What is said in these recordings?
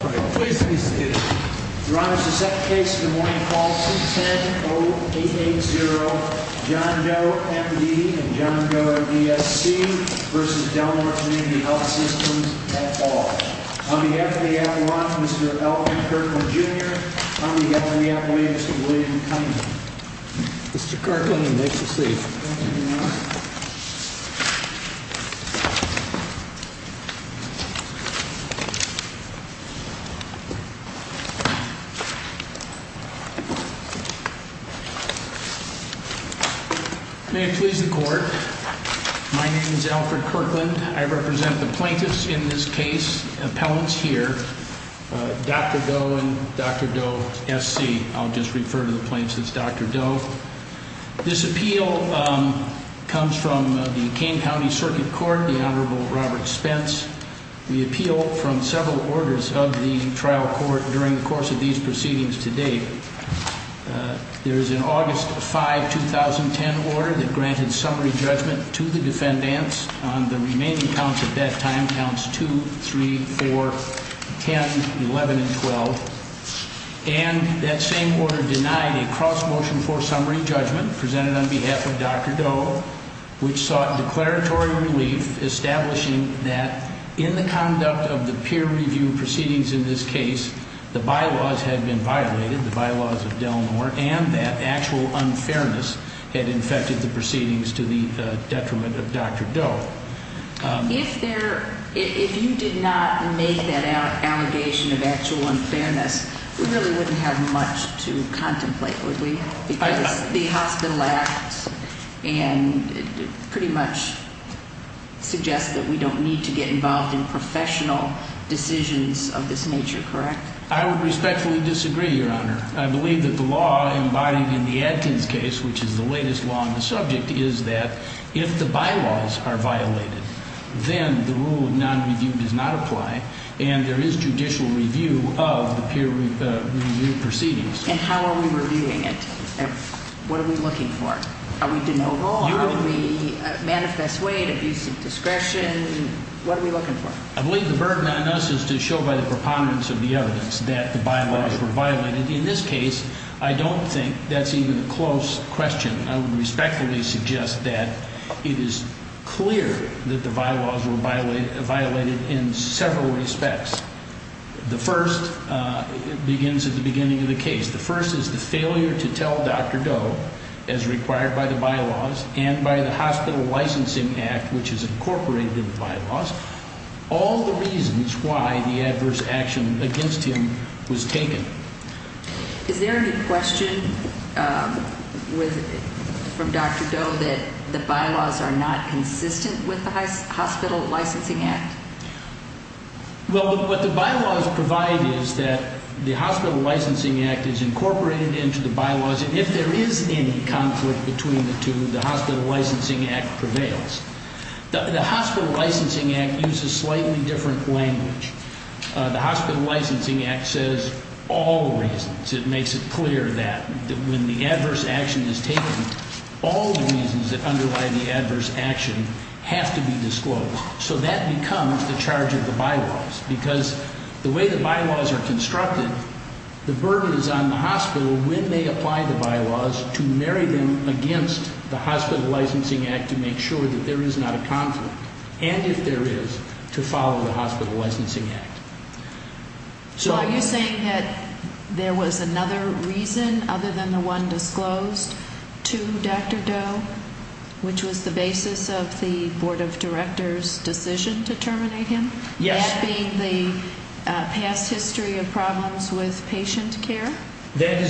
Please be seated. Your Honor, the second case in the morning is C-10-0-8-8-0, John Doe M.D. and John Doe O.D.S.C. v. Delnor Community Dane Health Systems at all. On behalf of the Appalachians, Mr. L.P. Kirkland, Jr. On behalf of the Appalachians, Mr. William Cunningham. Mr. Kirkland, you may proceed. May it please the Court, my name is Alfred Kirkland. I represent the plaintiffs in this case, appellants here, Dr. Doe and Dr. Doe S.C. I'll just refer to the plaintiffs as Dr. Doe. This appeal comes from the Kane County Circuit Court, the Honorable Robert Spence. We appeal from several orders of the trial court during the course of these proceedings to date. There is an August 5, 2010 order that granted summary judgment to the defendants on the remaining counts at that time, counts 2, 3, 4, 10, 11 and 12. And that same order denied a cross-motion for summary judgment presented on behalf of Dr. Doe, which sought declaratory relief, establishing that in the conduct of the peer review proceedings in this case, the bylaws had been violated, the bylaws of Delnor, and that actual unfairness had infected the proceedings to the detriment of Dr. Doe. If you did not make that allegation of actual unfairness, we really wouldn't have much to contemplate, would we? Because the hospital acts and pretty much suggests that we don't need to get involved in professional decisions of this nature, correct? I would respectfully disagree, Your Honor. I believe that the law embodied in the Adkins case, which is the latest law on the subject, is that if the bylaws are violated, then the rule of non-review does not apply, and there is judicial review of the peer review proceedings. And how are we reviewing it? What are we looking for? Are we de novo? Are we manifest way to abuse of discretion? What are we looking for? I believe the burden on us is to show by the preponderance of the evidence that the bylaws were violated. In this case, I don't think that's even a close question. I would respectfully suggest that it is clear that the bylaws were violated in several respects. The first begins at the beginning of the case. The first is the failure to tell Dr. Doe, as required by the bylaws and by the Hospital Licensing Act, which is incorporated in the bylaws, all the reasons why the adverse action against him was taken. Is there any question from Dr. Doe that the bylaws are not consistent with the Hospital Licensing Act? Well, what the bylaws provide is that the Hospital Licensing Act is incorporated into the bylaws, and if there is any conflict between the two, the Hospital Licensing Act prevails. The Hospital Licensing Act uses slightly different language. The Hospital Licensing Act says all the reasons. It makes it clear that when the adverse action is taken, all the reasons that underlie the adverse action have to be disclosed. So that becomes the charge of the bylaws, because the way the bylaws are constructed, the burden is on the hospital when they apply the bylaws to marry them against the Hospital Licensing Act to make sure that there is not a conflict, and if there is, to follow the Hospital Licensing Act. So are you saying that there was another reason other than the one disclosed to Dr. Doe, which was the basis of the Board of Directors' decision to terminate him? Yes. That being the past history of problems with patient care? That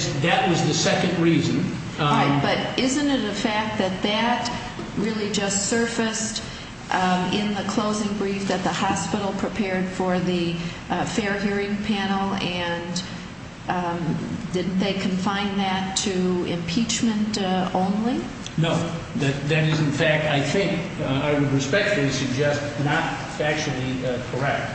was the second reason. But isn't it a fact that that really just surfaced in the closing brief that the hospital prepared for the fair hearing panel, and didn't they confine that to impeachment only? No. That is, in fact, I think, I would respectfully suggest, not actually correct.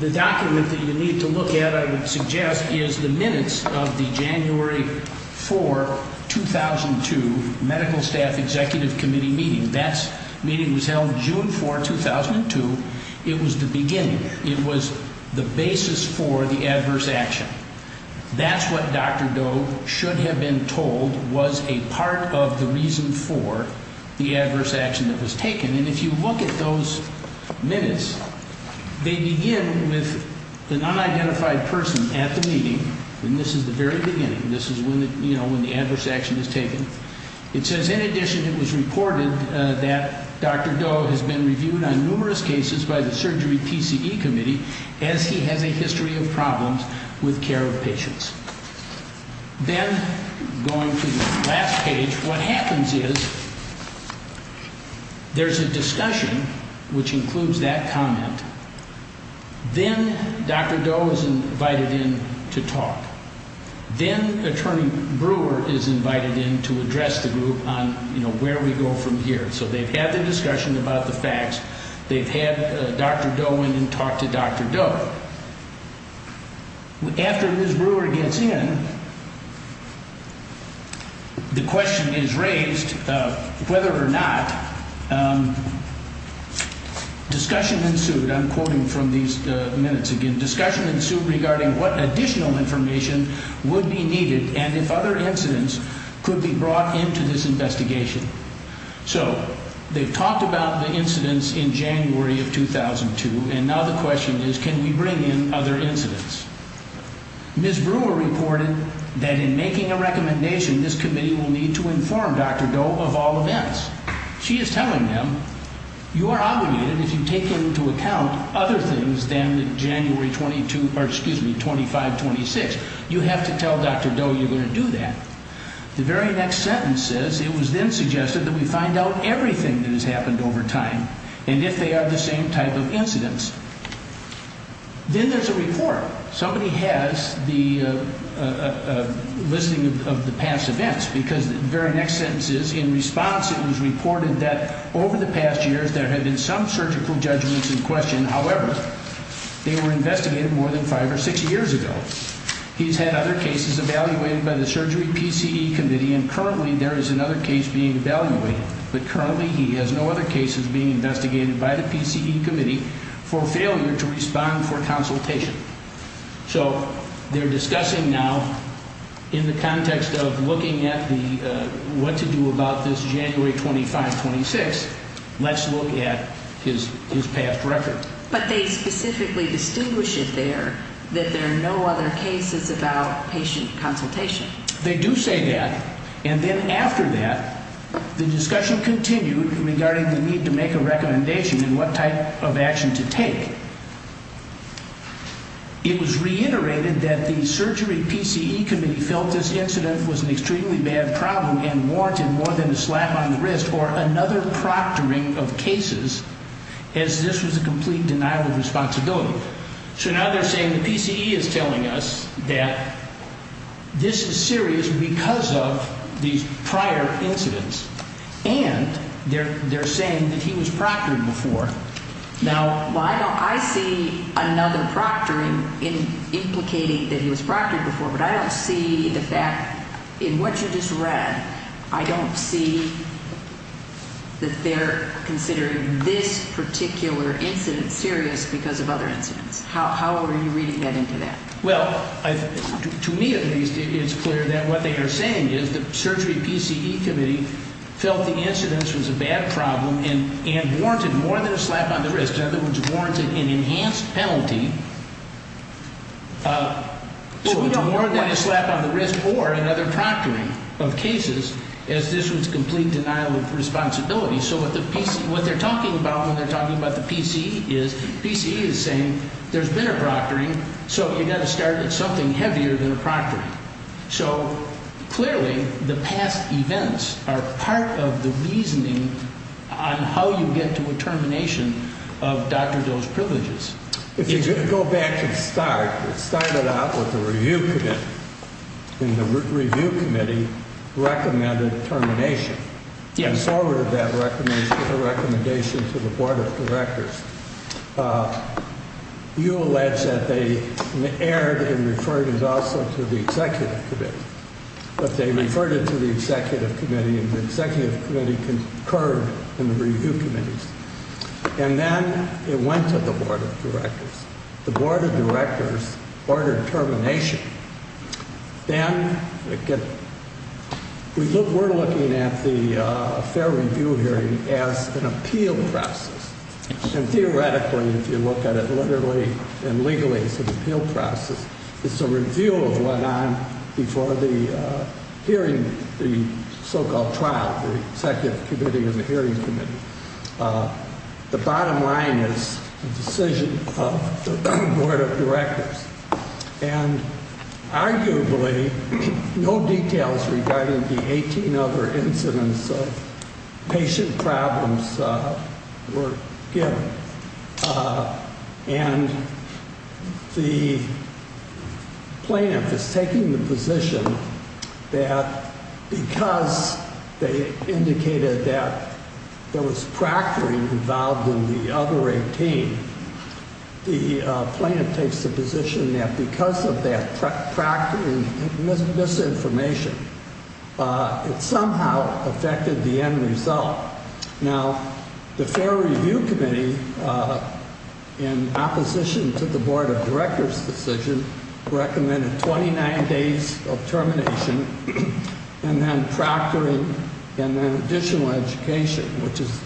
The document that you need to look at, I would suggest, is the minutes of the January 4, 2002, Medical Staff Executive Committee meeting. That meeting was held June 4, 2002. It was the beginning. It was the basis for the adverse action. That's what Dr. Doe should have been told was a part of the reason for the adverse action that was taken. And if you look at those minutes, they begin with an unidentified person at the meeting, and this is the very beginning. This is when the adverse action is taken. It says, in addition, it was reported that Dr. Doe has been reviewed on numerous cases by the Surgery PCE Committee, as he has a history of problems with care of patients. Then, going to the last page, what happens is there's a discussion, which includes that comment. Then Dr. Doe is invited in to talk. Then Attorney Brewer is invited in to address the group on where we go from here. So they've had the discussion about the facts. They've had Dr. Doe in and talk to Dr. Doe. After Ms. Brewer gets in, the question is raised whether or not discussion ensued. I'm quoting from these minutes again. The discussion ensued regarding what additional information would be needed and if other incidents could be brought into this investigation. So they've talked about the incidents in January of 2002, and now the question is, can we bring in other incidents? Ms. Brewer reported that in making a recommendation, this committee will need to inform Dr. Doe of all events. She is telling them, you are obligated, if you take into account other things than January 22, or excuse me, 25, 26, you have to tell Dr. Doe you're going to do that. The very next sentence is, it was then suggested that we find out everything that has happened over time, and if they are the same type of incidents. Then there's a report. Somebody has the listing of the past events, because the very next sentence is, in response it was reported that over the past years there had been some surgical judgments in question. However, they were investigated more than five or six years ago. He's had other cases evaluated by the Surgery PCE Committee, and currently there is another case being evaluated. But currently he has no other cases being investigated by the PCE Committee for failure to respond for consultation. So they're discussing now, in the context of looking at what to do about this January 25, 26, let's look at his past record. But they specifically distinguish it there, that there are no other cases about patient consultation. They do say that, and then after that, the discussion continued regarding the need to make a recommendation and what type of action to take. It was reiterated that the Surgery PCE Committee felt this incident was an extremely bad problem and warranted more than a slap on the wrist or another proctoring of cases, as this was a complete denial of responsibility. So now they're saying the PCE is telling us that this is serious because of these prior incidents, and they're saying that he was proctored before. Well, I see another proctoring implicating that he was proctored before, but I don't see the fact, in what you just read, I don't see that they're considering this particular incident serious because of other incidents. How are you reading that into that? Well, to me, at least, it's clear that what they are saying is the Surgery PCE Committee felt the incidents was a bad problem and warranted more than a slap on the wrist. In other words, warranted an enhanced penalty, so it's more than a slap on the wrist or another proctoring of cases, as this was complete denial of responsibility. So what they're talking about when they're talking about the PCE is PCE is saying there's been a proctoring, so you've got to start with something heavier than a proctoring. So clearly, the past events are part of the reasoning on how you get to a termination of Dr. Doe's privileges. If you go back to the start, it started out with the Review Committee, and the Review Committee recommended termination. They forwarded that recommendation to the Board of Directors. You allege that they erred and referred it also to the Executive Committee, but they referred it to the Executive Committee, and the Executive Committee concurred in the Review Committees. And then it went to the Board of Directors. The Board of Directors ordered termination. Then, again, we're looking at the fair review hearing as an appeal process. And theoretically, if you look at it literally and legally, it's an appeal process. It's a review of what went on before the hearing, the so-called trial, the Executive Committee and the Hearing Committee. The bottom line is the decision of the Board of Directors. And arguably, no details regarding the 18 other incidents of patient problems were given. And the plaintiff is taking the position that because they indicated that there was proctoring involved in the other 18, the plaintiff takes the position that because of that proctoring misinformation, it somehow affected the end result. Now, the Fair Review Committee, in opposition to the Board of Directors' decision, recommended 29 days of termination and then proctoring and then additional education, which is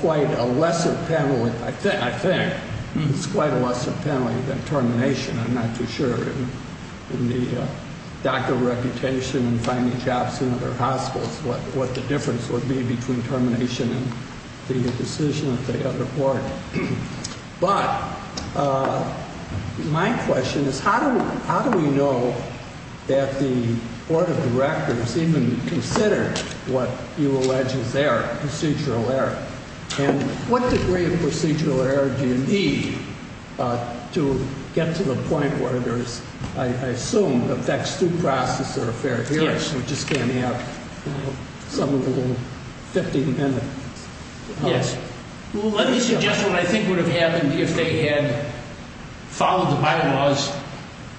quite a lesser penalty, I think. It's quite a lesser penalty than termination. I'm not too sure. In the doctor reputation and finding jobs in other hospitals, what the difference would be between termination and the decision of the other board. But my question is, how do we know that the Board of Directors even considered what you allege is error, procedural error? And what degree of procedural error do you need to get to the point where there's, I assume, a vexed due process or a fair hearing, which is going to have some of the 15 minutes? Yes. Well, let me suggest what I think would have happened if they had followed the bylaws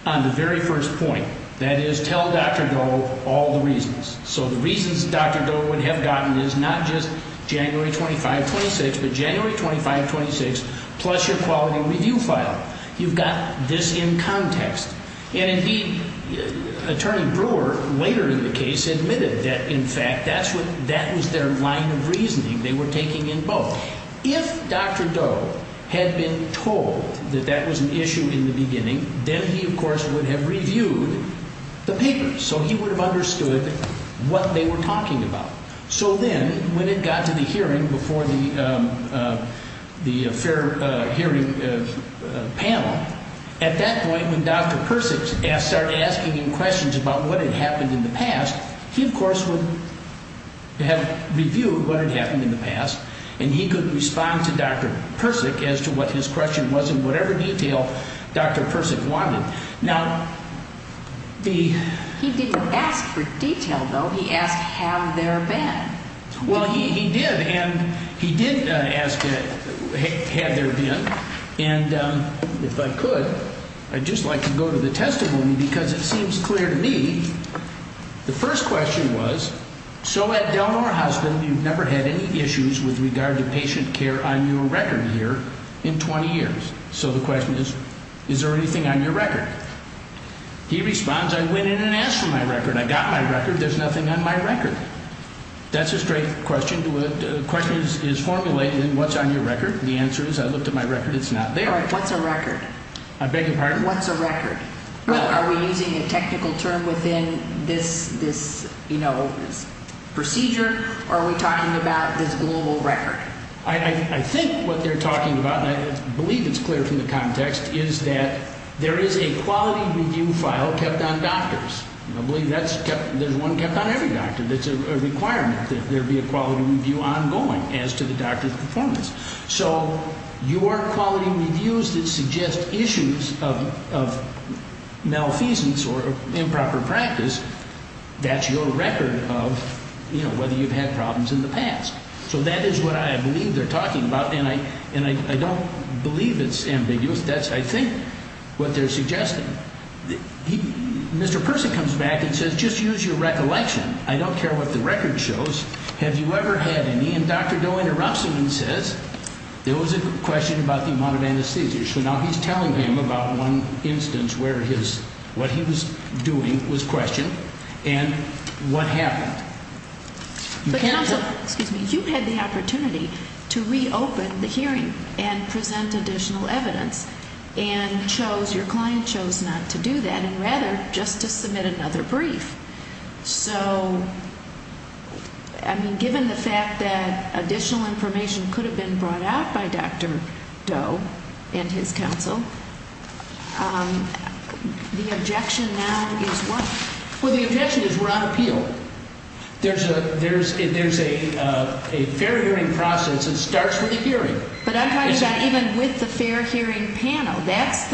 on the very first point. That is, tell Dr. Doe all the reasons. So the reasons Dr. Doe would have gotten is not just January 25, 26, but January 25, 26, plus your quality review file. You've got this in context. And, indeed, Attorney Brewer, later in the case, admitted that, in fact, that was their line of reasoning. They were taking in both. If Dr. Doe had been told that that was an issue in the beginning, then he, of course, would have reviewed the papers. So he would have understood what they were talking about. So then, when it got to the hearing before the fair hearing panel, at that point, when Dr. Persick started asking him questions about what had happened in the past, he, of course, would have reviewed what had happened in the past, and he could respond to Dr. Persick as to what his question was and whatever detail Dr. Persick wanted. He didn't ask for detail, though. He asked, have there been? Well, he did, and he did ask, have there been? And, if I could, I'd just like to go to the testimony, because it seems clear to me. The first question was, so, Ed Delmore, husband, you've never had any issues with regard to patient care on your record here in 20 years. So the question is, is there anything on your record? He responds, I went in and asked for my record. I got my record. There's nothing on my record. That's a straight question. The question is formulated in what's on your record. The answer is, I looked at my record. It's not there. All right. What's a record? I beg your pardon? What's a record? Are we using a technical term within this procedure, or are we talking about this global record? I think what they're talking about, and I believe it's clear from the context, is that there is a quality review file kept on doctors. I believe there's one kept on every doctor. It's a requirement that there be a quality review ongoing as to the doctor's performance. So your quality reviews that suggest issues of malfeasance or improper practice, that's your record of, you know, whether you've had problems in the past. So that is what I believe they're talking about, and I don't believe it's ambiguous. That's, I think, what they're suggesting. Mr. Person comes back and says, just use your recollection. I don't care what the record shows. Have you ever had any? And Dr. Doe interrupts him and says, there was a question about the amount of anesthesia. So now he's telling him about one instance where his, what he was doing was questioned, and what happened. But counsel, excuse me, you had the opportunity to reopen the hearing and present additional evidence and chose, your client chose not to do that, and rather just to submit another brief. So, I mean, given the fact that additional information could have been brought out by Dr. Doe and his counsel, the objection now is what? Well, the objection is we're on appeal. There's a fair hearing process that starts with a hearing. But I'm talking about even with the fair hearing panel. That's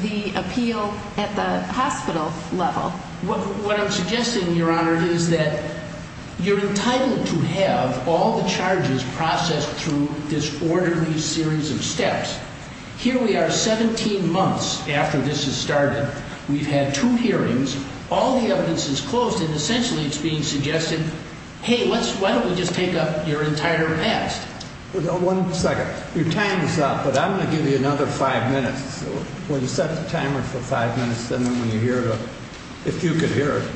the appeal at the hospital level. What I'm suggesting, Your Honor, is that you're entitled to have all the charges processed through this orderly series of steps. Here we are 17 months after this has started. We've had two hearings. All the evidence is closed, and essentially it's being suggested, hey, why don't we just take up your entire past? One second. Your time is up, but I'm going to give you another five minutes. When you set the timer for five minutes, then when you hear it, if you could hear it.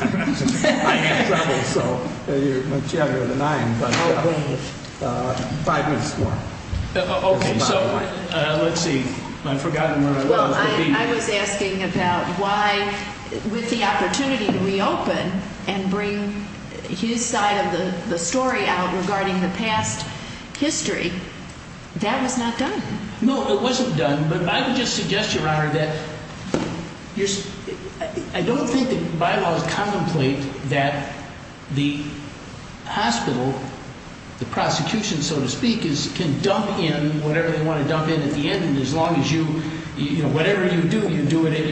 I have trouble, so you're much younger than I am. Five minutes more. Okay, so let's see. I've forgotten where I was. I was asking about why, with the opportunity to reopen and bring his side of the story out regarding the past history. That was not done. No, it wasn't done, but I would just suggest, Your Honor, that I don't think the bylaws contemplate that the hospital, the prosecution, so to speak, can dump in whatever they want to dump in at the end. As long as you, whatever you do, you do it at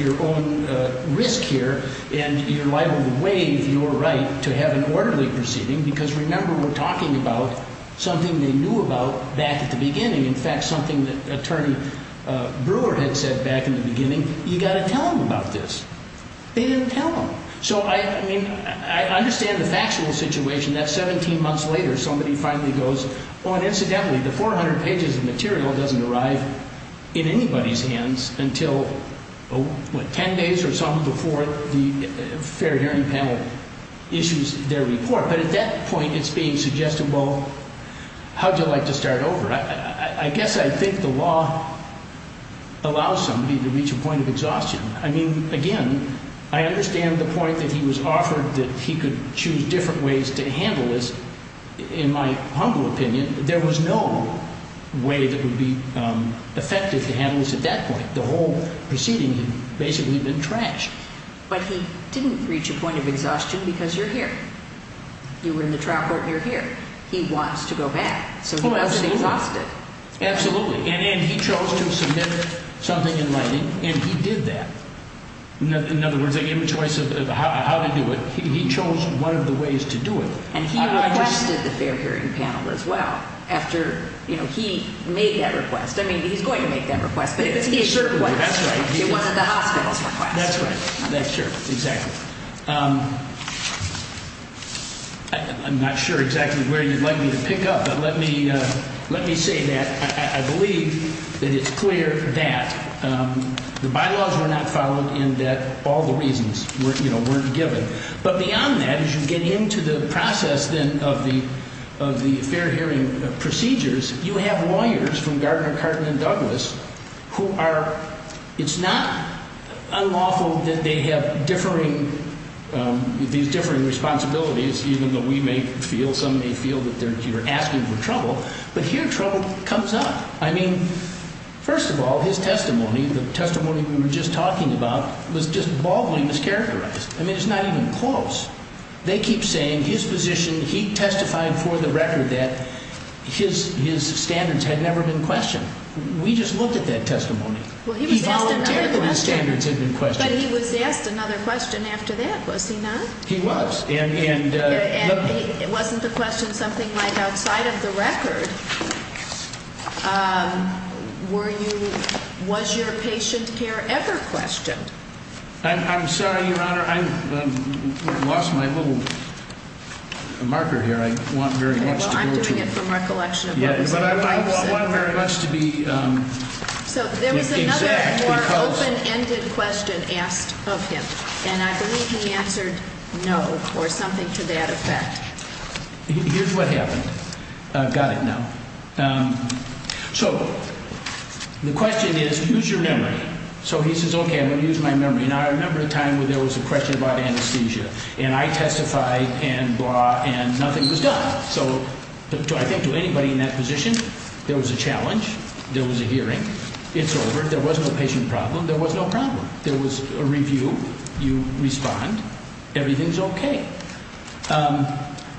your own risk here, and you're liable to waive your right to have an orderly proceeding, because remember, we're talking about something they knew about back at the beginning. In fact, something that Attorney Brewer had said back in the beginning, you've got to tell them about this. They didn't tell them. So, I mean, I understand the factual situation, that 17 months later, somebody finally goes, oh, and incidentally, the 400 pages of material doesn't arrive in anybody's hands until, what, 10 days or so before the fair hearing panel issues their report. But at that point, it's being suggested, well, how would you like to start over? I guess I think the law allows somebody to reach a point of exhaustion. I mean, again, I understand the point that he was offered that he could choose different ways to handle this. In my humble opinion, there was no way that would be effective to handle this at that point. The whole proceeding had basically been trashed. But he didn't reach a point of exhaustion because you're here. You were in the trial court and you're here. He wants to go back, so he wasn't exhausted. Absolutely. And he chose to submit something in writing, and he did that. In other words, they gave him a choice of how to do it. He chose one of the ways to do it. And he requested the fair hearing panel as well after he made that request. I mean, he's going to make that request, but it certainly wasn't the hospital's request. That's right. Sure. Exactly. I'm not sure exactly where you'd like me to pick up, but let me say that I believe that it's clear that the bylaws were not followed and that all the reasons weren't given. But beyond that, as you get into the process then of the fair hearing procedures, you have lawyers from Gardner, Cartman, and Douglas who are – it's not unlawful that they have differing – these differing responsibilities, even though we may feel, some may feel that you're asking for trouble. But here, trouble comes up. I mean, first of all, his testimony, the testimony we were just talking about, was just baldly mischaracterized. I mean, it's not even close. They keep saying his position, he testified for the record that his standards had never been questioned. We just looked at that testimony. Well, he was asked another question. But he was asked another question after that, was he not? He was. And wasn't the question something like outside of the record? Were you – was your patient care ever questioned? I'm sorry, Your Honor, I lost my little marker here. I want very much to go to – Well, I'm doing it from recollection of what was in the pipes. But I want very much to be exact because – So there was another more open-ended question asked of him, and I believe he answered no or something to that effect. Here's what happened. I've got it now. So the question is, use your memory. So he says, okay, I'm going to use my memory. Now, I remember a time when there was a question about anesthesia, and I testified and blah, and nothing was done. So I think to anybody in that position, there was a challenge, there was a hearing, it's over, there was no patient problem, there was no problem. There was a review. You respond. Everything's okay.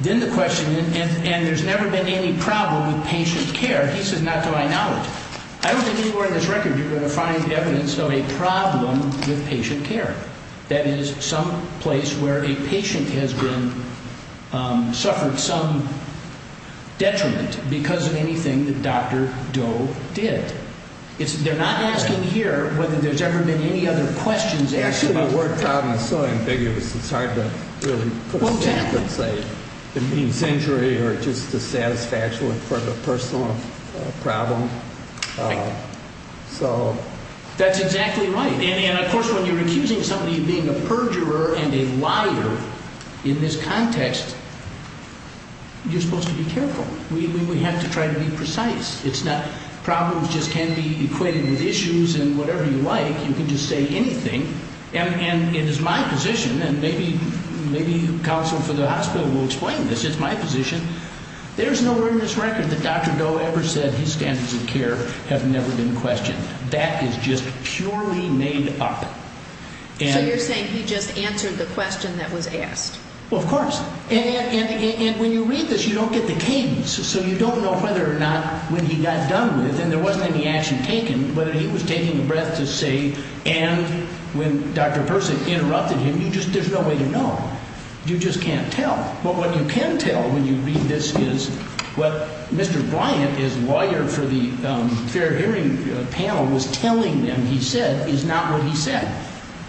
Then the question – and there's never been any problem with patient care. He says, not to my knowledge. I don't think anywhere in this record you're going to find evidence of a problem with patient care. That is, some place where a patient has been – suffered some detriment because of anything that Dr. Doe did. They're not asking here whether there's ever been any other questions asked about – Actually, the word problem is so ambiguous, it's hard to really put a stamp and say it means injury or just a satisfaction for the personal problem. So – That's exactly right. And, of course, when you're accusing somebody of being a perjurer and a liar in this context, you're supposed to be careful. We have to try to be precise. It's not – problems just can't be equated with issues and whatever you like. You can just say anything, and it is my position, and maybe counsel for the hospital will explain this. It's my position. There's nowhere in this record that Dr. Doe ever said his standards of care have never been questioned. That is just purely made up. So you're saying he just answered the question that was asked?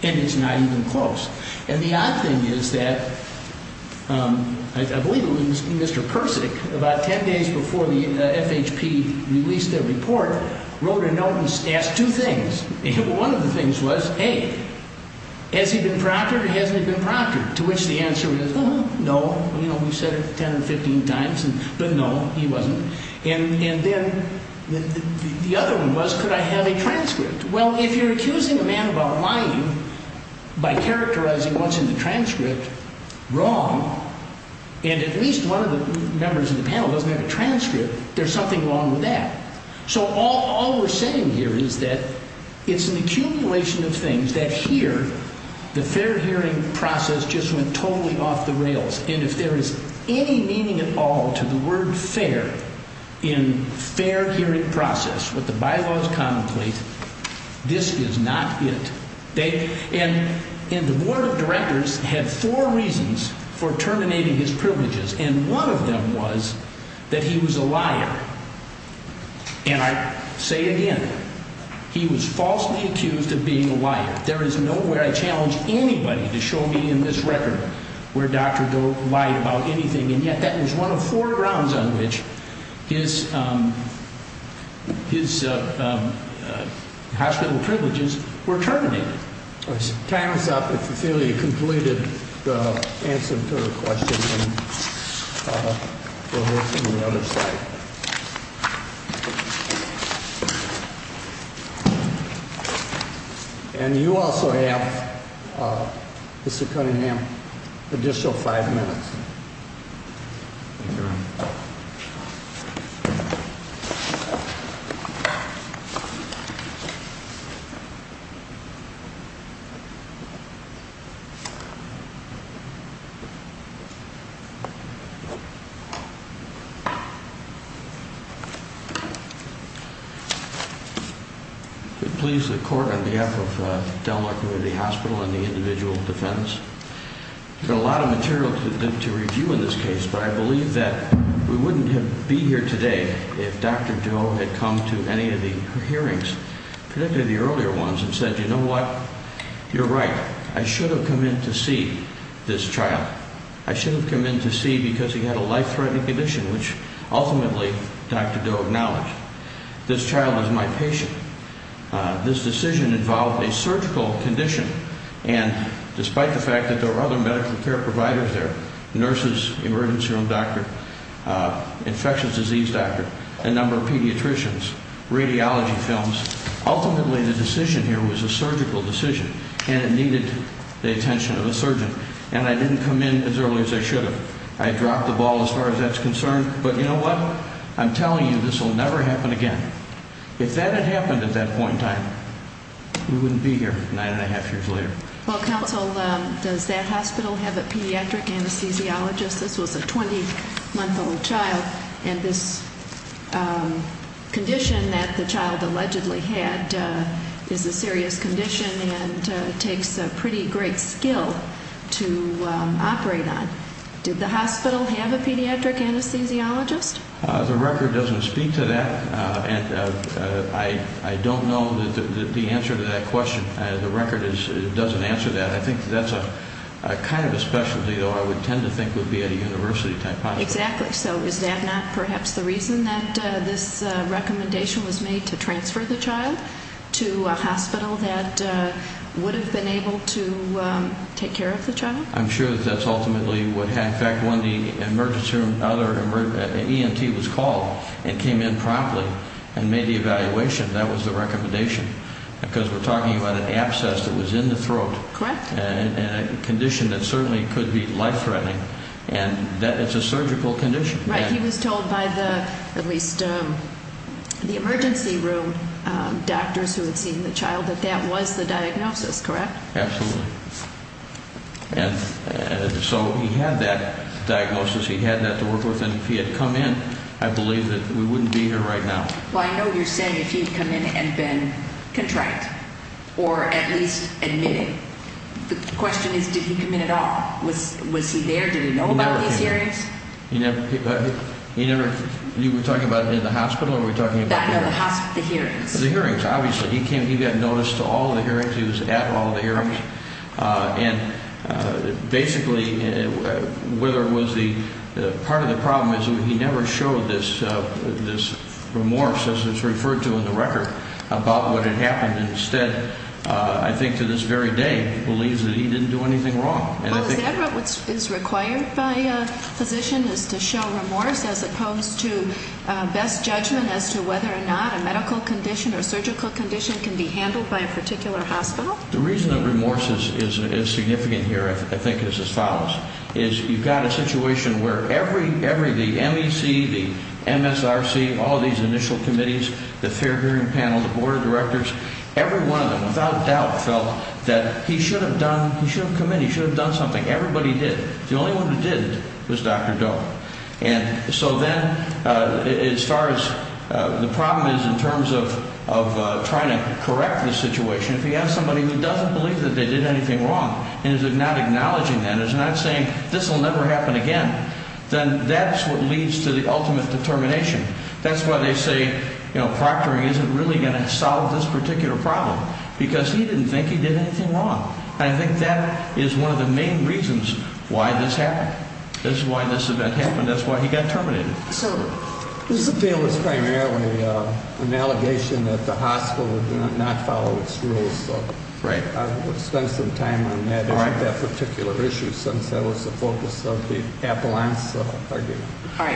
And it's not even close. And the odd thing is that – I believe it was Mr. Persick, about ten days before the FHP released their report, wrote a note and asked two things. And one of the things was, A, has he been proctored or hasn't he been proctored? To which the answer is, no. You know, we've said it 10 or 15 times, but no, he wasn't. And then the other one was, could I have a transcript? Well, if you're accusing a man about lying by characterizing what's in the transcript wrong, and at least one of the members of the panel doesn't have a transcript, there's something wrong with that. So all we're saying here is that it's an accumulation of things that here, the fair hearing process just went totally off the rails. And if there is any meaning at all to the word fair in fair hearing process, what the bylaws contemplate, this is not it. And the board of directors had four reasons for terminating his privileges, and one of them was that he was a liar. And I say again, he was falsely accused of being a liar. There is no way I challenge anybody to show me in this record where Dr. Doe lied about anything, and yet that was one of four grounds on which his hospital privileges were terminated. Time is up. If you feel you've completed the answer to the question, we'll move to the other side. And you also have, Mr. Cunningham, an additional five minutes. Thank you, Mr. Chairman. Please, the court, on behalf of Delmar Community Hospital and the individual defendants, there's a lot of material to review in this case, but I believe that we wouldn't be here today if Dr. Doe had come to any of the hearings, particularly the earlier ones, and said, you know what, you're right, I should have come in to see this child. I should have come in to see because he had a life-threatening condition, which ultimately Dr. Doe acknowledged. This child is my patient. This decision involved a surgical condition, and despite the fact that there were other medical care providers there, nurses, emergency room doctor, infectious disease doctor, a number of pediatricians, radiology films, ultimately the decision here was a surgical decision, and it needed the attention of a surgeon. And I didn't come in as early as I should have. I dropped the ball as far as that's concerned, but you know what, I'm telling you, this will never happen again. If that had happened at that point in time, we wouldn't be here nine and a half years later. Well, counsel, does that hospital have a pediatric anesthesiologist? This was a 20-month-old child, and this condition that the child allegedly had is a serious condition and takes a pretty great skill to operate on. Did the hospital have a pediatric anesthesiologist? The record doesn't speak to that, and I don't know the answer to that question. The record doesn't answer that. I think that's kind of a specialty, though I would tend to think would be at a university-type hospital. Exactly. So is that not perhaps the reason that this recommendation was made to transfer the child to a hospital that would have been able to take care of the child? I'm sure that's ultimately what happened. In fact, when the emergency room, ENT, was called and came in promptly and made the evaluation, that was the recommendation, because we're talking about an abscess that was in the throat. Correct. And a condition that certainly could be life-threatening, and it's a surgical condition. Right. He was told by at least the emergency room doctors who had seen the child that that was the diagnosis, correct? Absolutely. And so he had that diagnosis. He had that to work with, and if he had come in, I believe that we wouldn't be here right now. Well, I know you're saying if he had come in and been contrite or at least admitting. The question is, did he come in at all? Was he there? Did he know about these hearings? He never – you were talking about in the hospital, or were you talking about the hearings? The hearings. The hearings, obviously. He got notice to all the hearings. He was at all the hearings. And basically, part of the problem is he never showed this remorse, as it's referred to in the record, about what had happened. Instead, I think to this very day, believes that he didn't do anything wrong. Well, is that what is required by a physician, is to show remorse as opposed to best judgment as to whether or not a medical condition or surgical condition can be handled by a particular hospital? The reason that remorse is significant here, I think, is as follows. Is you've got a situation where every – the MEC, the MSRC, all these initial committees, the fair hearing panel, the board of directors, every one of them without doubt felt that he should have done – he should have come in, he should have done something. Everybody did. The only one who didn't was Dr. Doe. And so then, as far as the problem is in terms of trying to correct the situation, if you have somebody who doesn't believe that they did anything wrong and is not acknowledging that, is not saying, this will never happen again, then that's what leads to the ultimate determination. That's why they say, you know, proctoring isn't really going to solve this particular problem, because he didn't think he did anything wrong. And I think that is one of the main reasons why this happened. That's why this event happened. That's why he got terminated. This appeal is primarily an allegation that the hospital did not follow its rules. So I would spend some time on that issue, that particular issue, since that was the focus of the appellant's argument. As far as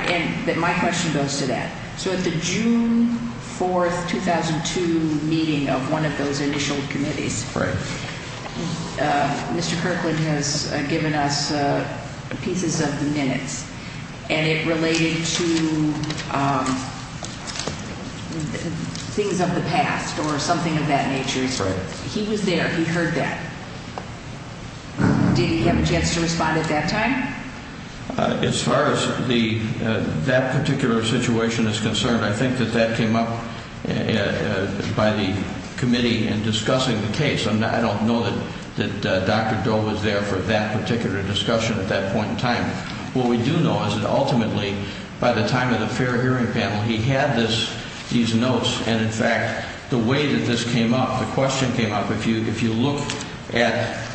that particular situation is concerned, I think that that came up by the committee in discussing the case. And I don't know that Dr. Doe was there for that particular discussion at that point in time. What we do know is that, ultimately, by the time of the fair hearing panel, he had these notes. And, in fact, the way that this came up, the question came up, if you look in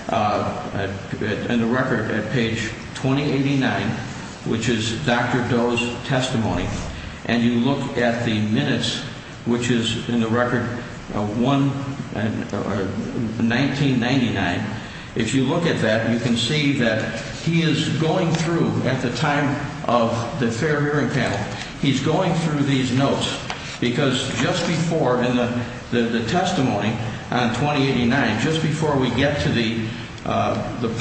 the record at page 2089, which is Dr. Doe's testimony, and you look at the minutes, which is in the record 1999, if you look at that, you can see that he is going through a process. He's going through, at the time of the fair hearing panel, he's going through these notes. Because just before, in the testimony on 2089, just before we get to the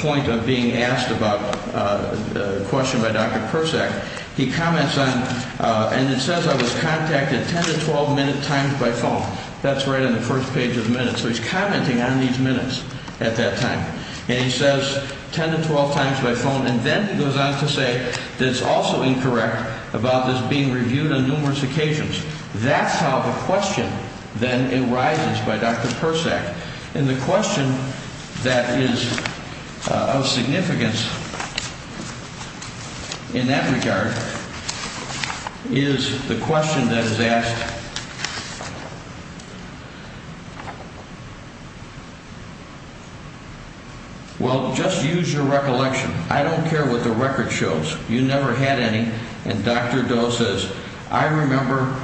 point of being asked about the question by Dr. Persak, he comments on, and it says I was contacted 10 to 12 minute times by phone. That's right on the first page of the minutes. So he's commenting on these minutes at that time. And he says 10 to 12 times by phone. And then he goes on to say that it's also incorrect about this being reviewed on numerous occasions. That's how the question then arises by Dr. Persak. And the question that is of significance in that regard is the question that is asked, well, just use your recollection. I don't care what the record shows. You never had any. And Dr. Doe says, I remember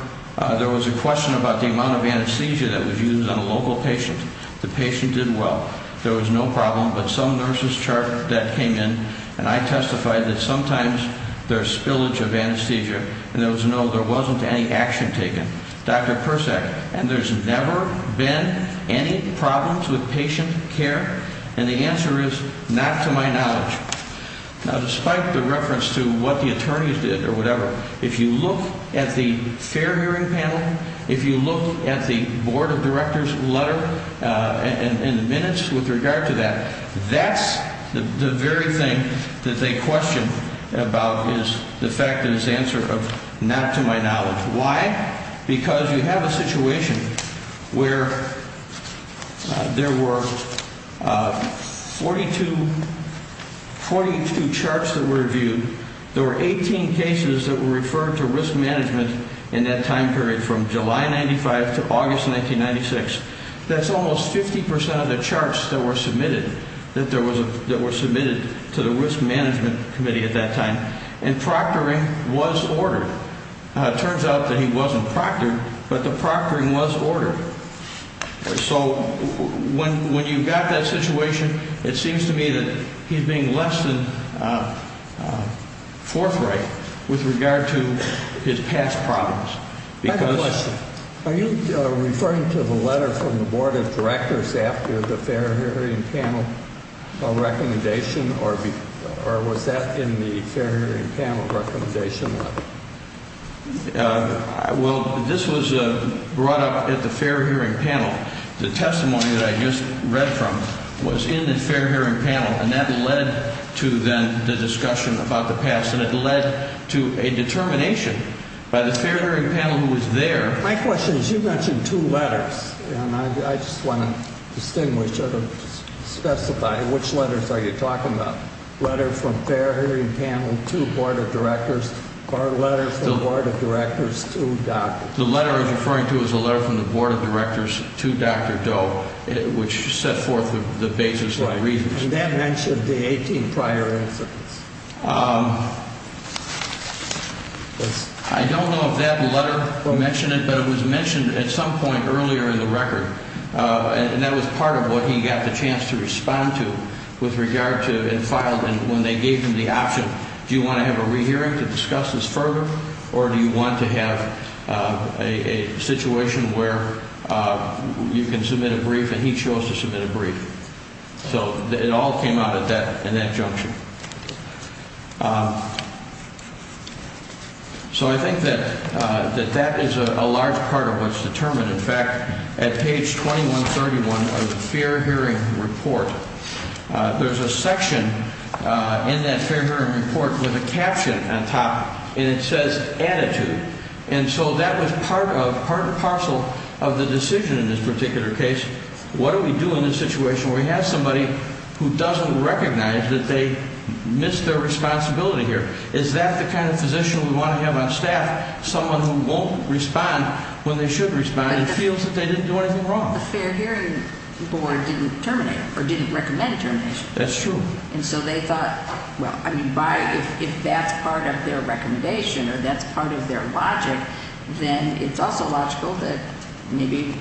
there was a question about the amount of anesthesia that was used on a local patient. The patient did well. There was no problem. But some nurses chart that came in, and I testified that sometimes there's spillage of anesthesia, and there was no, there wasn't any action taken. Dr. Persak, and there's never been any problems with patient care? And the answer is not to my knowledge. Now, despite the reference to what the attorneys did or whatever, if you look at the fair hearing panel, if you look at the board of directors letter and the minutes with regard to that, that's the very thing that they question about is the fact that it's the answer of not to my knowledge. Why? Because you have a situation where there were 42, 42 charts that were reviewed. There were 18 cases that were referred to risk management in that time period from July 95 to August 1996. That's almost 50% of the charts that were submitted, that there was, that were submitted to the risk management committee at that time. And proctoring was ordered. It turns out that he wasn't proctored, but the proctoring was ordered. So when you've got that situation, it seems to me that he's being less than forthright with regard to his past problems. Are you referring to the letter from the board of directors after the fair hearing panel recommendation, or was that in the fair hearing panel recommendation? Well, this was brought up at the fair hearing panel. The testimony that I just read from was in the fair hearing panel, and that led to then the discussion about the past. And it led to a determination by the fair hearing panel who was there. My question is, you mentioned two letters, and I just want to distinguish, specify which letters are you talking about? Letter from fair hearing panel to board of directors, or letter from board of directors to Dr. Doe? The letter he's referring to is the letter from the board of directors to Dr. Doe, which set forth the basis of the reasons. And that mentioned the 18 prior incidents. I don't know if that letter mentioned it, but it was mentioned at some point earlier in the record, and that was part of what he got the chance to respond to with regard to and filed when they gave him the option. Do you want to have a rehearing to discuss this further, or do you want to have a situation where you can submit a brief and he chose to submit a brief? So it all came out at that, in that junction. So I think that that is a large part of what's determined. In fact, at page 2131 of the fair hearing report, there's a section in that fair hearing report with a caption on top, and it says attitude. And so that was part of, part and parcel of the decision in this particular case. What do we do in a situation where we have somebody who doesn't recognize that they missed their responsibility here? Is that the kind of physician we want to have on staff, someone who won't respond when they should respond and feels that they didn't do anything wrong? The fair hearing board didn't terminate, or didn't recommend a termination. That's true. And so they thought, well, I mean, if that's part of their recommendation or that's part of their logic, then it's also logical that maybe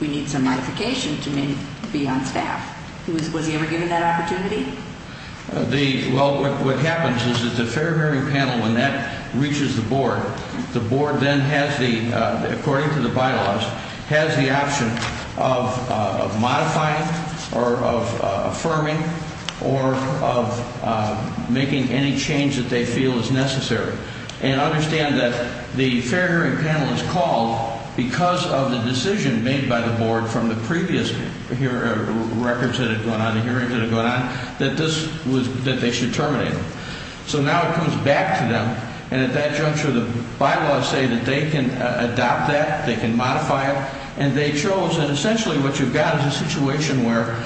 we need some modification to be on staff. Was he ever given that opportunity? Well, what happens is that the fair hearing panel, when that reaches the board, the board then has the, according to the bylaws, has the option of modifying or of affirming or of making any change that they feel is necessary. And understand that the fair hearing panel is called because of the decision made by the board from the previous records that had gone on, the hearings that had gone on, that this was, that they should terminate them. So now it comes back to them, and at that juncture the bylaws say that they can adopt that, they can modify it, and they chose, and essentially what you've got is a situation where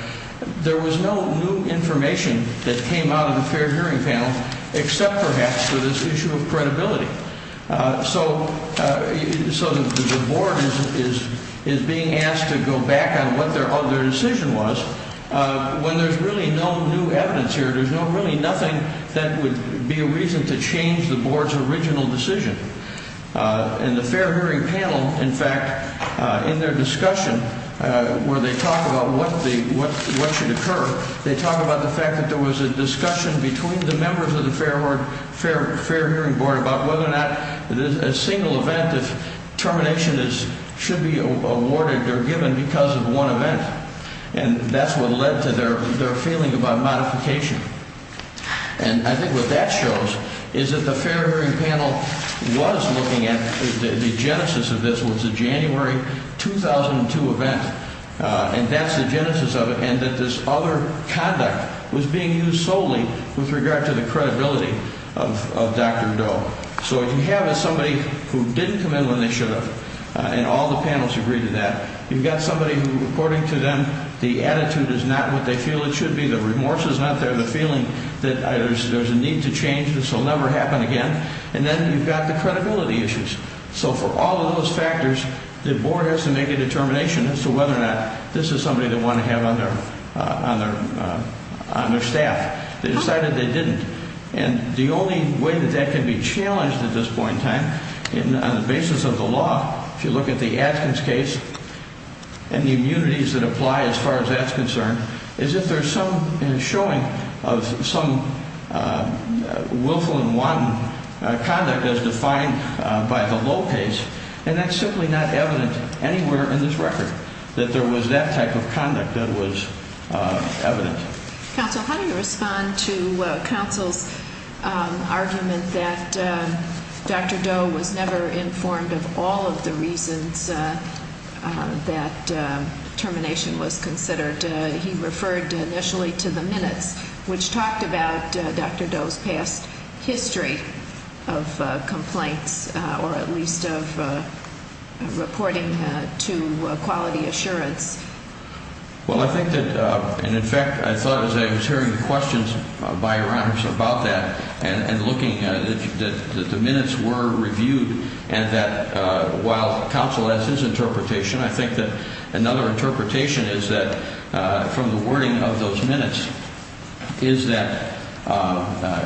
there was no new information that came out of the fair hearing panel, except perhaps for this issue of credibility. So the board is being asked to go back on what their decision was when there's really no new evidence here, there's really nothing that would be a reason to change the board's original decision. And the fair hearing panel, in fact, in their discussion where they talk about what should occur, they talk about the fact that there was a discussion between the members of the fair hearing board about whether or not a single event of termination should be awarded or given because of one event. And that's what led to their feeling about modification. And I think what that shows is that the fair hearing panel was looking at, the genesis of this was the January 2002 event, and that's the genesis of it, and that this other conduct was being used solely with regard to the credibility of Dr. Doe. So what you have is somebody who didn't come in when they should have, and all the panels agree to that. You've got somebody who, according to them, the attitude is not what they feel it should be, the remorse is not there, the feeling that there's a need to change, this will never happen again, and then you've got the credibility issues. So for all of those factors, the board has to make a determination as to whether or not this is somebody they want to have on their staff. They decided they didn't. And the only way that that can be challenged at this point in time, on the basis of the law, if you look at the Atkins case and the immunities that apply as far as that's concerned, is if there's some showing of some willful and wanton conduct as defined by the Lopez, and that's simply not evident anywhere in this record, that there was that type of conduct that was evident. Counsel, how do you respond to counsel's argument that Dr. Doe was never informed of all of the reasons that termination was considered? He referred initially to the minutes, which talked about Dr. Doe's past history of complaints, or at least of reporting to Quality Assurance. Well, I think that, and in fact, I thought as I was hearing the questions by Your Honors about that and looking, that the minutes were reviewed and that while counsel has his interpretation, I think that another interpretation is that from the wording of those minutes is that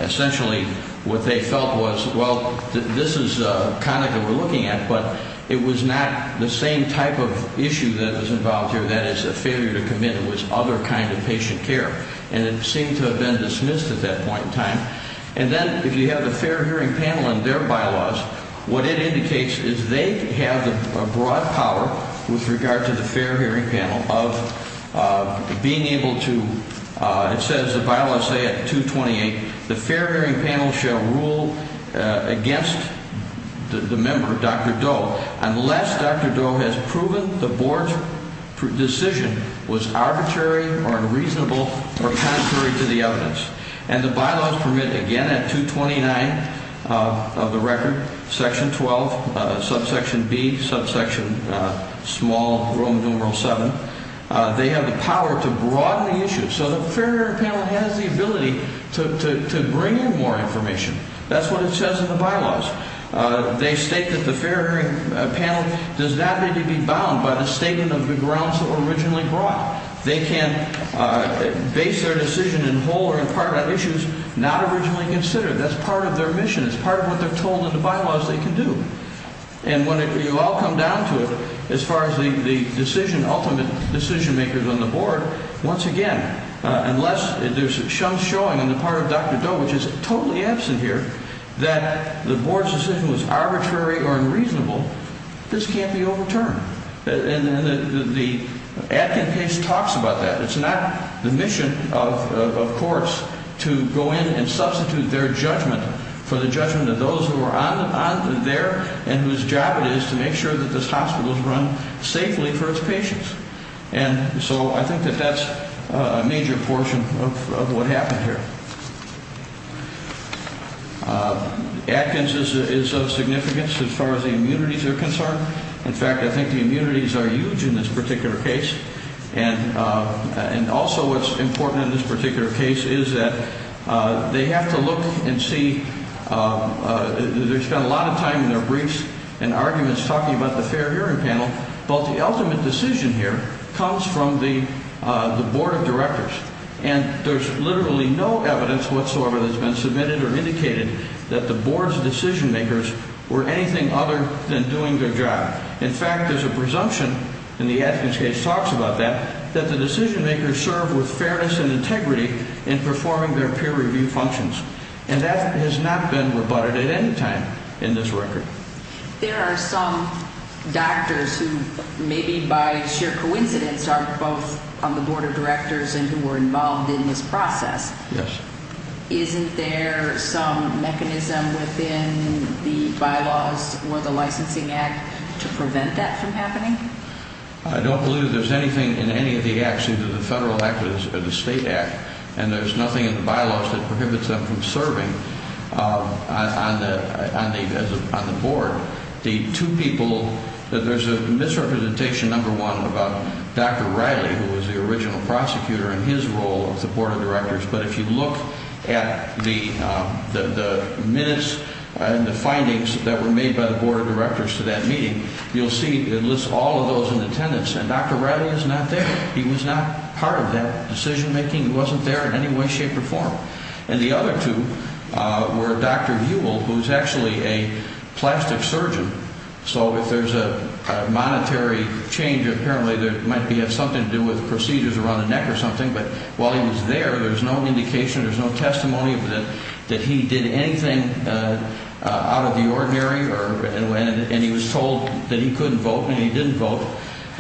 essentially what they felt was, well, this is conduct that we're looking at, but it was not the same type of issue that was involved here. That is, a failure to commit to this other kind of patient care, and it seemed to have been dismissed at that point in time. And then if you have a fair hearing panel in their bylaws, what it indicates is they have a broad power with regard to the fair hearing panel of being able to, it says the bylaws say at 228, the fair hearing panel shall rule against the member, Dr. Doe, unless Dr. Doe has proven the board's decision was arbitrary or unreasonable or contrary to the evidence. And the bylaws permit again at 229 of the record, section 12, subsection B, subsection small Rome numeral 7, they have the power to broaden the issue so the fair hearing panel has the ability to bring in more information. That's what it says in the bylaws. They state that the fair hearing panel does not need to be bound by the statement of the grounds that were originally brought. They can base their decision in whole or in part on issues not originally considered. That's part of their mission. It's part of what they're told in the bylaws they can do. And when you all come down to it, as far as the decision, ultimate decision makers on the board, once again, unless there's some showing on the part of Dr. Doe, which is totally absent here, that the board's decision was arbitrary or unreasonable, this can't be overturned. And the Atkins case talks about that. It's not the mission of courts to go in and substitute their judgment for the judgment of those who are on there and whose job it is to make sure that this hospital is run safely for its patients. And so I think that that's a major portion of what happened here. Atkins is of significance as far as the immunities are concerned. In fact, I think the immunities are huge in this particular case. And also what's important in this particular case is that they have to look and see. There's been a lot of time in their briefs and arguments talking about the fair hearing panel. But the ultimate decision here comes from the board of directors. And there's literally no evidence whatsoever that's been submitted or indicated that the board's decision makers were anything other than doing their job. In fact, there's a presumption, and the Atkins case talks about that, that the decision makers served with fairness and integrity in performing their peer review functions. And that has not been rebutted at any time in this record. There are some doctors who, maybe by sheer coincidence, are both on the board of directors and who were involved in this process. Yes. Isn't there some mechanism within the bylaws or the licensing act to prevent that from happening? I don't believe there's anything in any of the acts, either the federal act or the state act. And there's nothing in the bylaws that prohibits them from serving on the board. There's a misrepresentation, number one, about Dr. Riley, who was the original prosecutor, and his role as the board of directors. But if you look at the minutes and the findings that were made by the board of directors to that meeting, you'll see it lists all of those in attendance. And Dr. Riley is not there. He was not part of that decision making. He wasn't there in any way, shape, or form. And the other two were Dr. Buell, who's actually a plastic surgeon. So if there's a monetary change, apparently it might have something to do with procedures around the neck or something. But while he was there, there was no indication, there was no testimony that he did anything out of the ordinary. And he was told that he couldn't vote, and he didn't vote.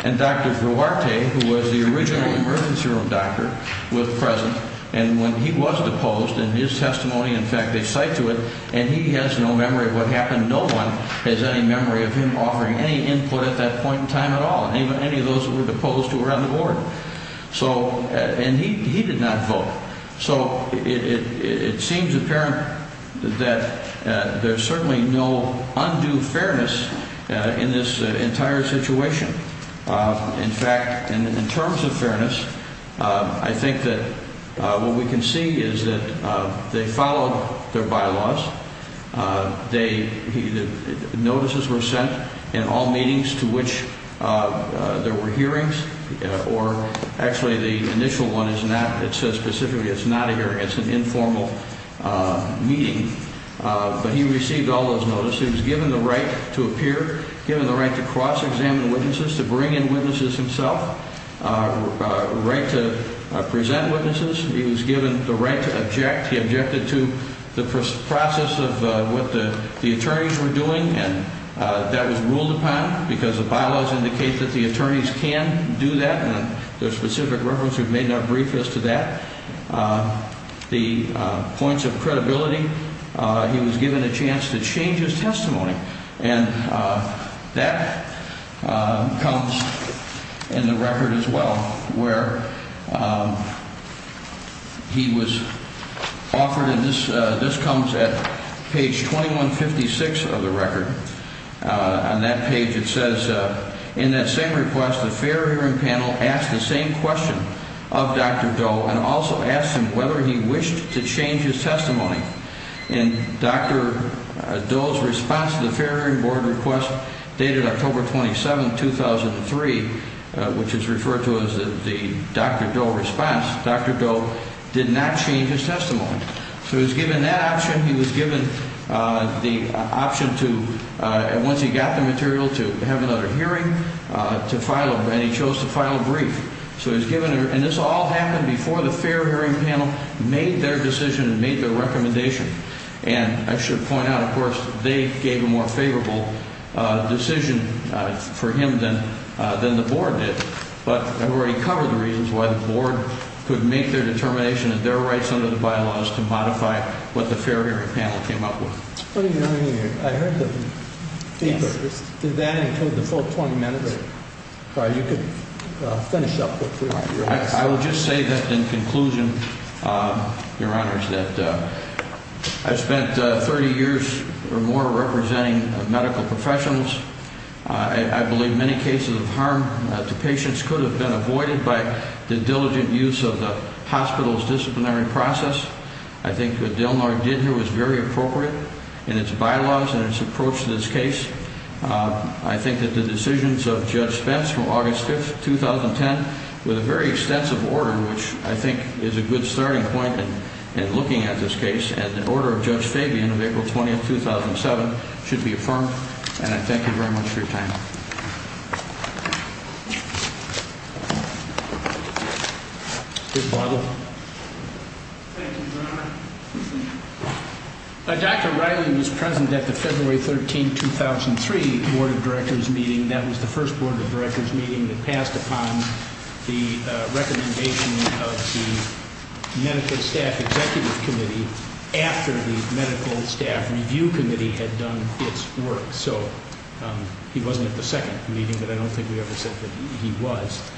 And Dr. Duarte, who was the original emergency room doctor, was present. And when he was deposed, in his testimony, in fact, they cite to it, and he has no memory of what happened. No one has any memory of him offering any input at that point in time at all, any of those who were deposed who were on the board. And he did not vote. So it seems apparent that there's certainly no undue fairness in this entire situation. In fact, in terms of fairness, I think that what we can see is that they followed their bylaws. Notices were sent in all meetings to which there were hearings, or actually the initial one is not, it says specifically it's not a hearing, it's an informal meeting. But he received all those notices. He was given the right to appear, given the right to cross-examine witnesses, to bring in witnesses himself, the right to present witnesses. He was given the right to object. He objected to the process of what the attorneys were doing, and that was ruled upon because the bylaws indicate that the attorneys can do that. And there's specific reference we've made in our brief as to that. The points of credibility, he was given a chance to change his testimony. And that comes in the record as well, where he was offered, and this comes at page 2156 of the record. On that page it says, in that same request, the fair hearing panel asked the same question of Dr. Doe and also asked him whether he wished to change his testimony. And Dr. Doe's response to the fair hearing board request dated October 27, 2003, which is referred to as the Dr. Doe response, Dr. Doe did not change his testimony. So he was given that option. He was given the option to, once he got the material, to have another hearing and he chose to file a brief. And this all happened before the fair hearing panel made their decision and made their recommendation. And I should point out, of course, they gave a more favorable decision for him than the board did. But I've already covered the reasons why the board could make their determination and their rights under the bylaws to modify what the fair hearing panel came up with. I heard the speaker. Did that include the full 20 minutes? You could finish up. I will just say that in conclusion, Your Honors, that I've spent 30 years or more representing medical professionals. I believe many cases of harm to patients could have been avoided by the diligent use of the hospital's disciplinary process. I think what Del Norte did here was very appropriate in its bylaws and its approach to this case. I think that the decisions of Judge Spence from August 5, 2010, with a very extensive order, which I think is a good starting point in looking at this case, and the order of Judge Fabian of April 20, 2007, should be affirmed. And I thank you very much for your time. Mr. Poggle. Thank you, Your Honor. Dr. Reilly was present at the February 13, 2003 Board of Directors meeting. That was the first Board of Directors meeting that passed upon the recommendation of the Medical Staff Executive Committee after the Medical Staff Review Committee had done its work. So he wasn't at the second meeting, but I don't think we ever said that he was.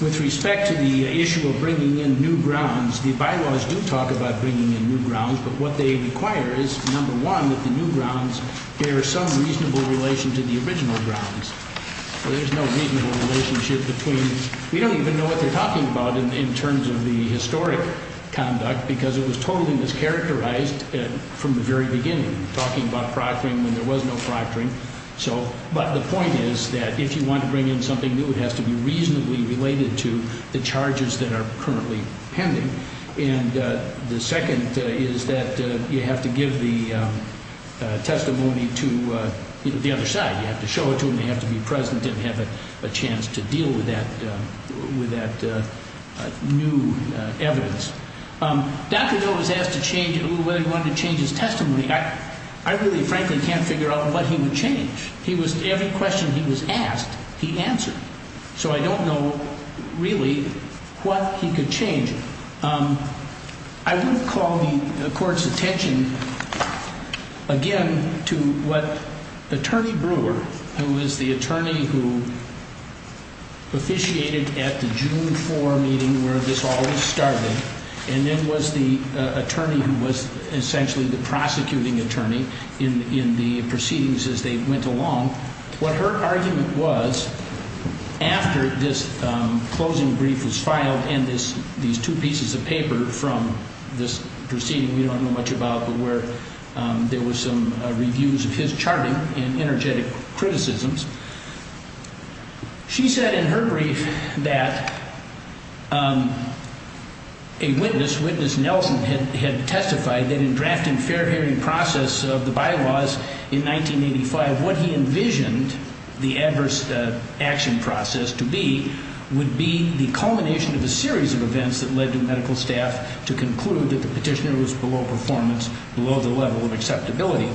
With respect to the issue of bringing in new grounds, the bylaws do talk about bringing in new grounds. But what they require is, number one, that the new grounds bear some reasonable relation to the original grounds. There's no reasonable relationship between – we don't even know what they're talking about in terms of the historic conduct, because it was totally mischaracterized from the very beginning, talking about proctoring when there was no proctoring. But the point is that if you want to bring in something new, it has to be reasonably related to the charges that are currently pending. And the second is that you have to give the testimony to the other side. You have to show it to them, they have to be present and have a chance to deal with that new evidence. Dr. Hill was asked to change – whether he wanted to change his testimony. I really, frankly, can't figure out what he would change. Every question he was asked, he answered. So I don't know, really, what he could change. I would call the Court's attention, again, to what Attorney Brewer, who was the attorney who officiated at the June 4 meeting where this all started, and then was the attorney who was essentially the prosecuting attorney in the proceedings as they went along, what her argument was, after this closing brief was filed, and these two pieces of paper from this proceeding we don't know much about, but where there were some reviews of his charting and energetic criticisms, she said in her brief that a witness, Witness Nelson, had testified that in drafting fair hearing process of the bylaws in 1985, what she envisioned the adverse action process to be would be the culmination of a series of events that led to medical staff to conclude that the petitioner was below performance, below the level of acceptability.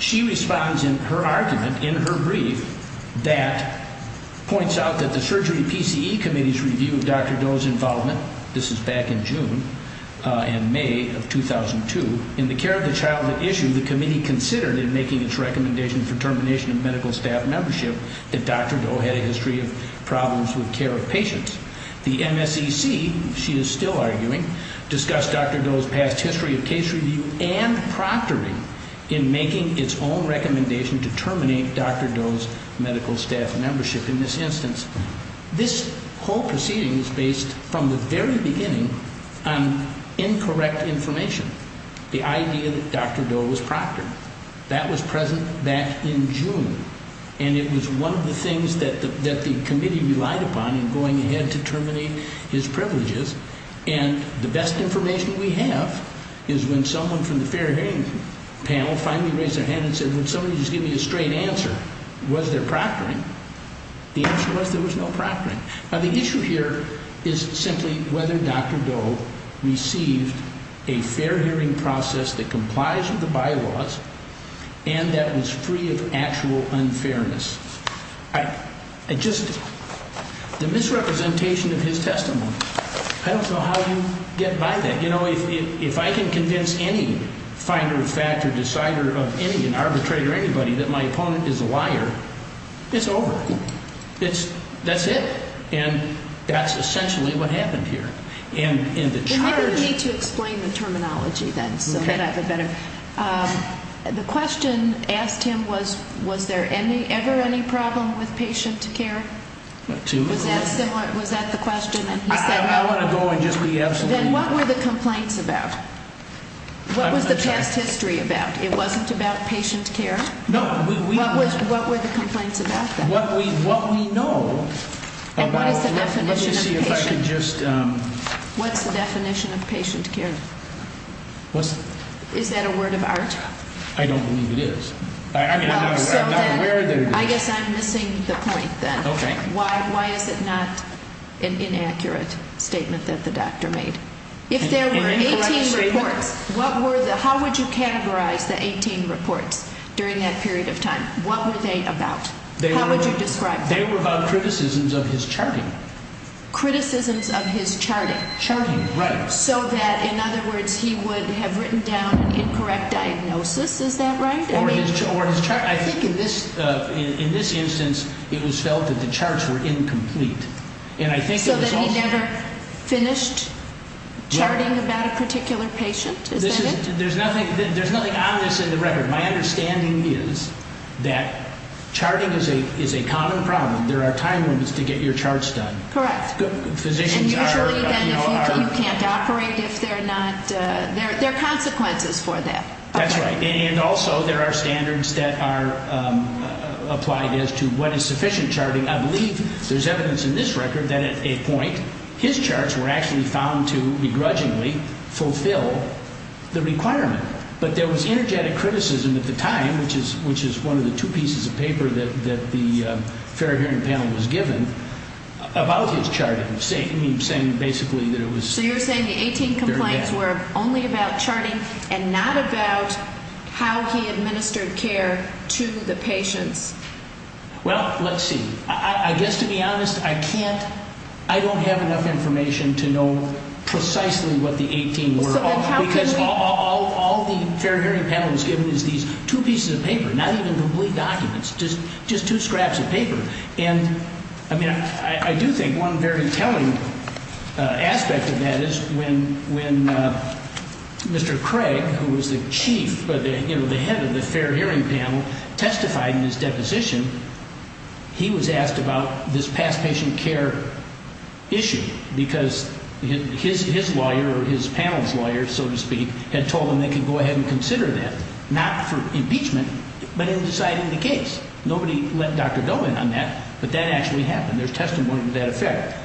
She responds in her argument, in her brief, that points out that the Surgery PCE Committee's review of Dr. Doe's involvement, this is back in June and May of 2002, in the care of the child issue, the committee considered in making its recommendation for termination of medical staff membership that Dr. Doe had a history of problems with care of patients. The MSEC, she is still arguing, discussed Dr. Doe's past history of case review and proctoring in making its own recommendation to terminate Dr. Doe's medical staff membership in this instance. This whole proceeding is based from the very beginning on incorrect information. The idea that Dr. Doe was proctored, that was present back in June and it was one of the things that the committee relied upon in going ahead to terminate his privileges and the best information we have is when someone from the fair hearing panel finally raised their hand and said, would somebody just give me a straight answer, was there proctoring? The answer was there was no proctoring. Now the issue here is simply whether Dr. Doe received a fair hearing process that complies with the bylaws and that was free of actual unfairness. I just, the misrepresentation of his testimony, I don't know how you get by that. You know, if I can convince any finder of fact or decider of any, an arbitrator or anybody that my opponent is a liar, it's over. It's, that's it. And that's essentially what happened here. Maybe we need to explain the terminology then so that I have a better, the question asked him was, was there ever any problem with patient care? Was that the question? I want to go and just be absolutely honest. Then what were the complaints about? What was the past history about? It wasn't about patient care? What were the complaints about then? What we know about, let me see if I can just, what's the definition of patient care? Is that a word of art? I don't believe it is. I guess I'm missing the point then. Why is it not an inaccurate statement that the doctor made? If there were 18 reports, what were the, how would you categorize the 18 reports during that period of time? What were they about? How would you describe them? They were about criticisms of his charting. Charting, right. So that, in other words, he would have written down an incorrect diagnosis. Is that right? I think in this instance it was felt that the charts were incomplete. So that he never finished charting about a particular patient? Is that it? There's nothing on this in the record. My understanding is that charting is a common problem. There are time limits to get your charts done. Correct. And usually then you can't operate if they're not, there are consequences for that. That's right. And also there are standards that are applied as to what is sufficient charting. I believe there's evidence in this record that at a point, his charts were actually found to begrudgingly fulfill the requirement. But there was energetic criticism at the time, which is one of the two pieces of paper that the fair hearing panel was given, about his charting, saying basically that it was very bad. So you're saying the 18 complaints were only about charting and not about how he administered care to the patients? Well, let's see. I guess, to be honest, I can't, I don't have enough information to know precisely what the 18 were. Because all the fair hearing panel was given is these two pieces of paper, not even complete documents, just two scraps of paper. And, I mean, I do think one very telling aspect of that is when Mr. Craig, who was the chief, you know, the head of the fair hearing panel, testified in his deposition, he was asked about this past patient care issue. Because his lawyer, or his panel's lawyer, so to speak, had told him they could go ahead and consider that. Not for impeachment, but in deciding the case. Nobody let Dr. Doe in on that. But that actually happened. There's testimony to that effect.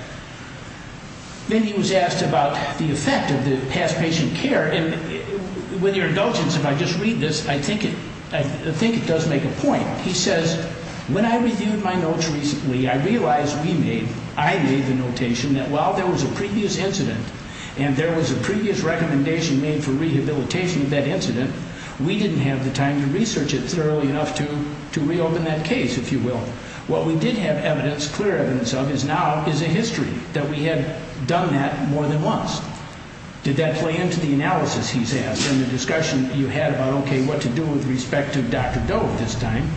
Then he was asked about the effect of the past patient care. And with your indulgence, if I just read this, I think it does make a point. He says, when I reviewed my notes recently, I realized we made, I made the notation, that while there was a previous incident, and there was a previous recommendation made for rehabilitation of that incident, we didn't have the time to research it thoroughly enough to reopen that case, if you will. What we did have evidence, clear evidence of, is now, is a history that we had done that more than once. Did that play into the analysis, he says, in the discussion you had about, okay, what to do with respect to Dr. Doe at this time?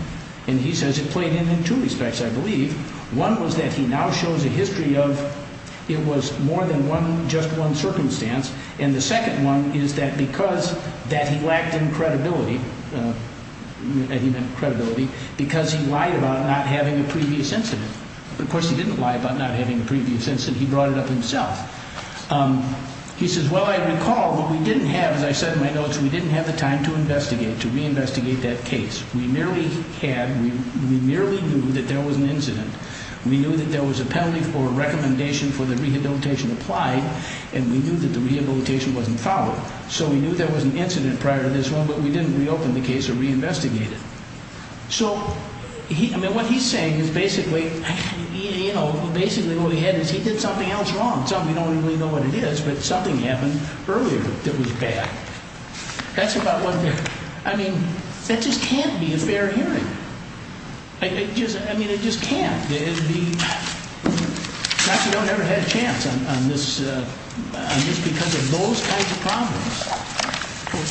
And he says it played in in two respects, I believe. One was that he now shows a history of, it was more than one, just one circumstance. And the second one is that because that he lacked in credibility, and he meant credibility, because he lied about not having a previous incident. Of course, he didn't lie about not having a previous incident. He brought it up himself. He says, well, I recall, but we didn't have, as I said in my notes, we didn't have the time to investigate, to reinvestigate that case. We merely had, we merely knew that there was an incident. We knew that there was a penalty for a recommendation for the rehabilitation applied, and we knew that the rehabilitation wasn't followed. So we knew there was an incident prior to this one, but we didn't reopen the case or reinvestigate it. So, I mean, what he's saying is basically, you know, basically what he had is he did something else wrong. Some of you don't even really know what it is, but something happened earlier that was bad. That's about what, I mean, that just can't be a fair hearing. I mean, it just can't. It would be, Dr. Doe never had a chance on this, just because of those kinds of problems.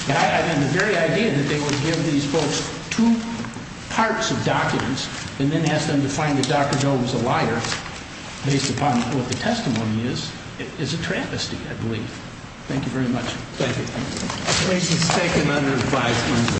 And the very idea that they would give these folks two parts of documents and then ask them to find that Dr. Doe was a liar, based upon what the testimony is, is a travesty, I believe. Thank you very much. Thank you.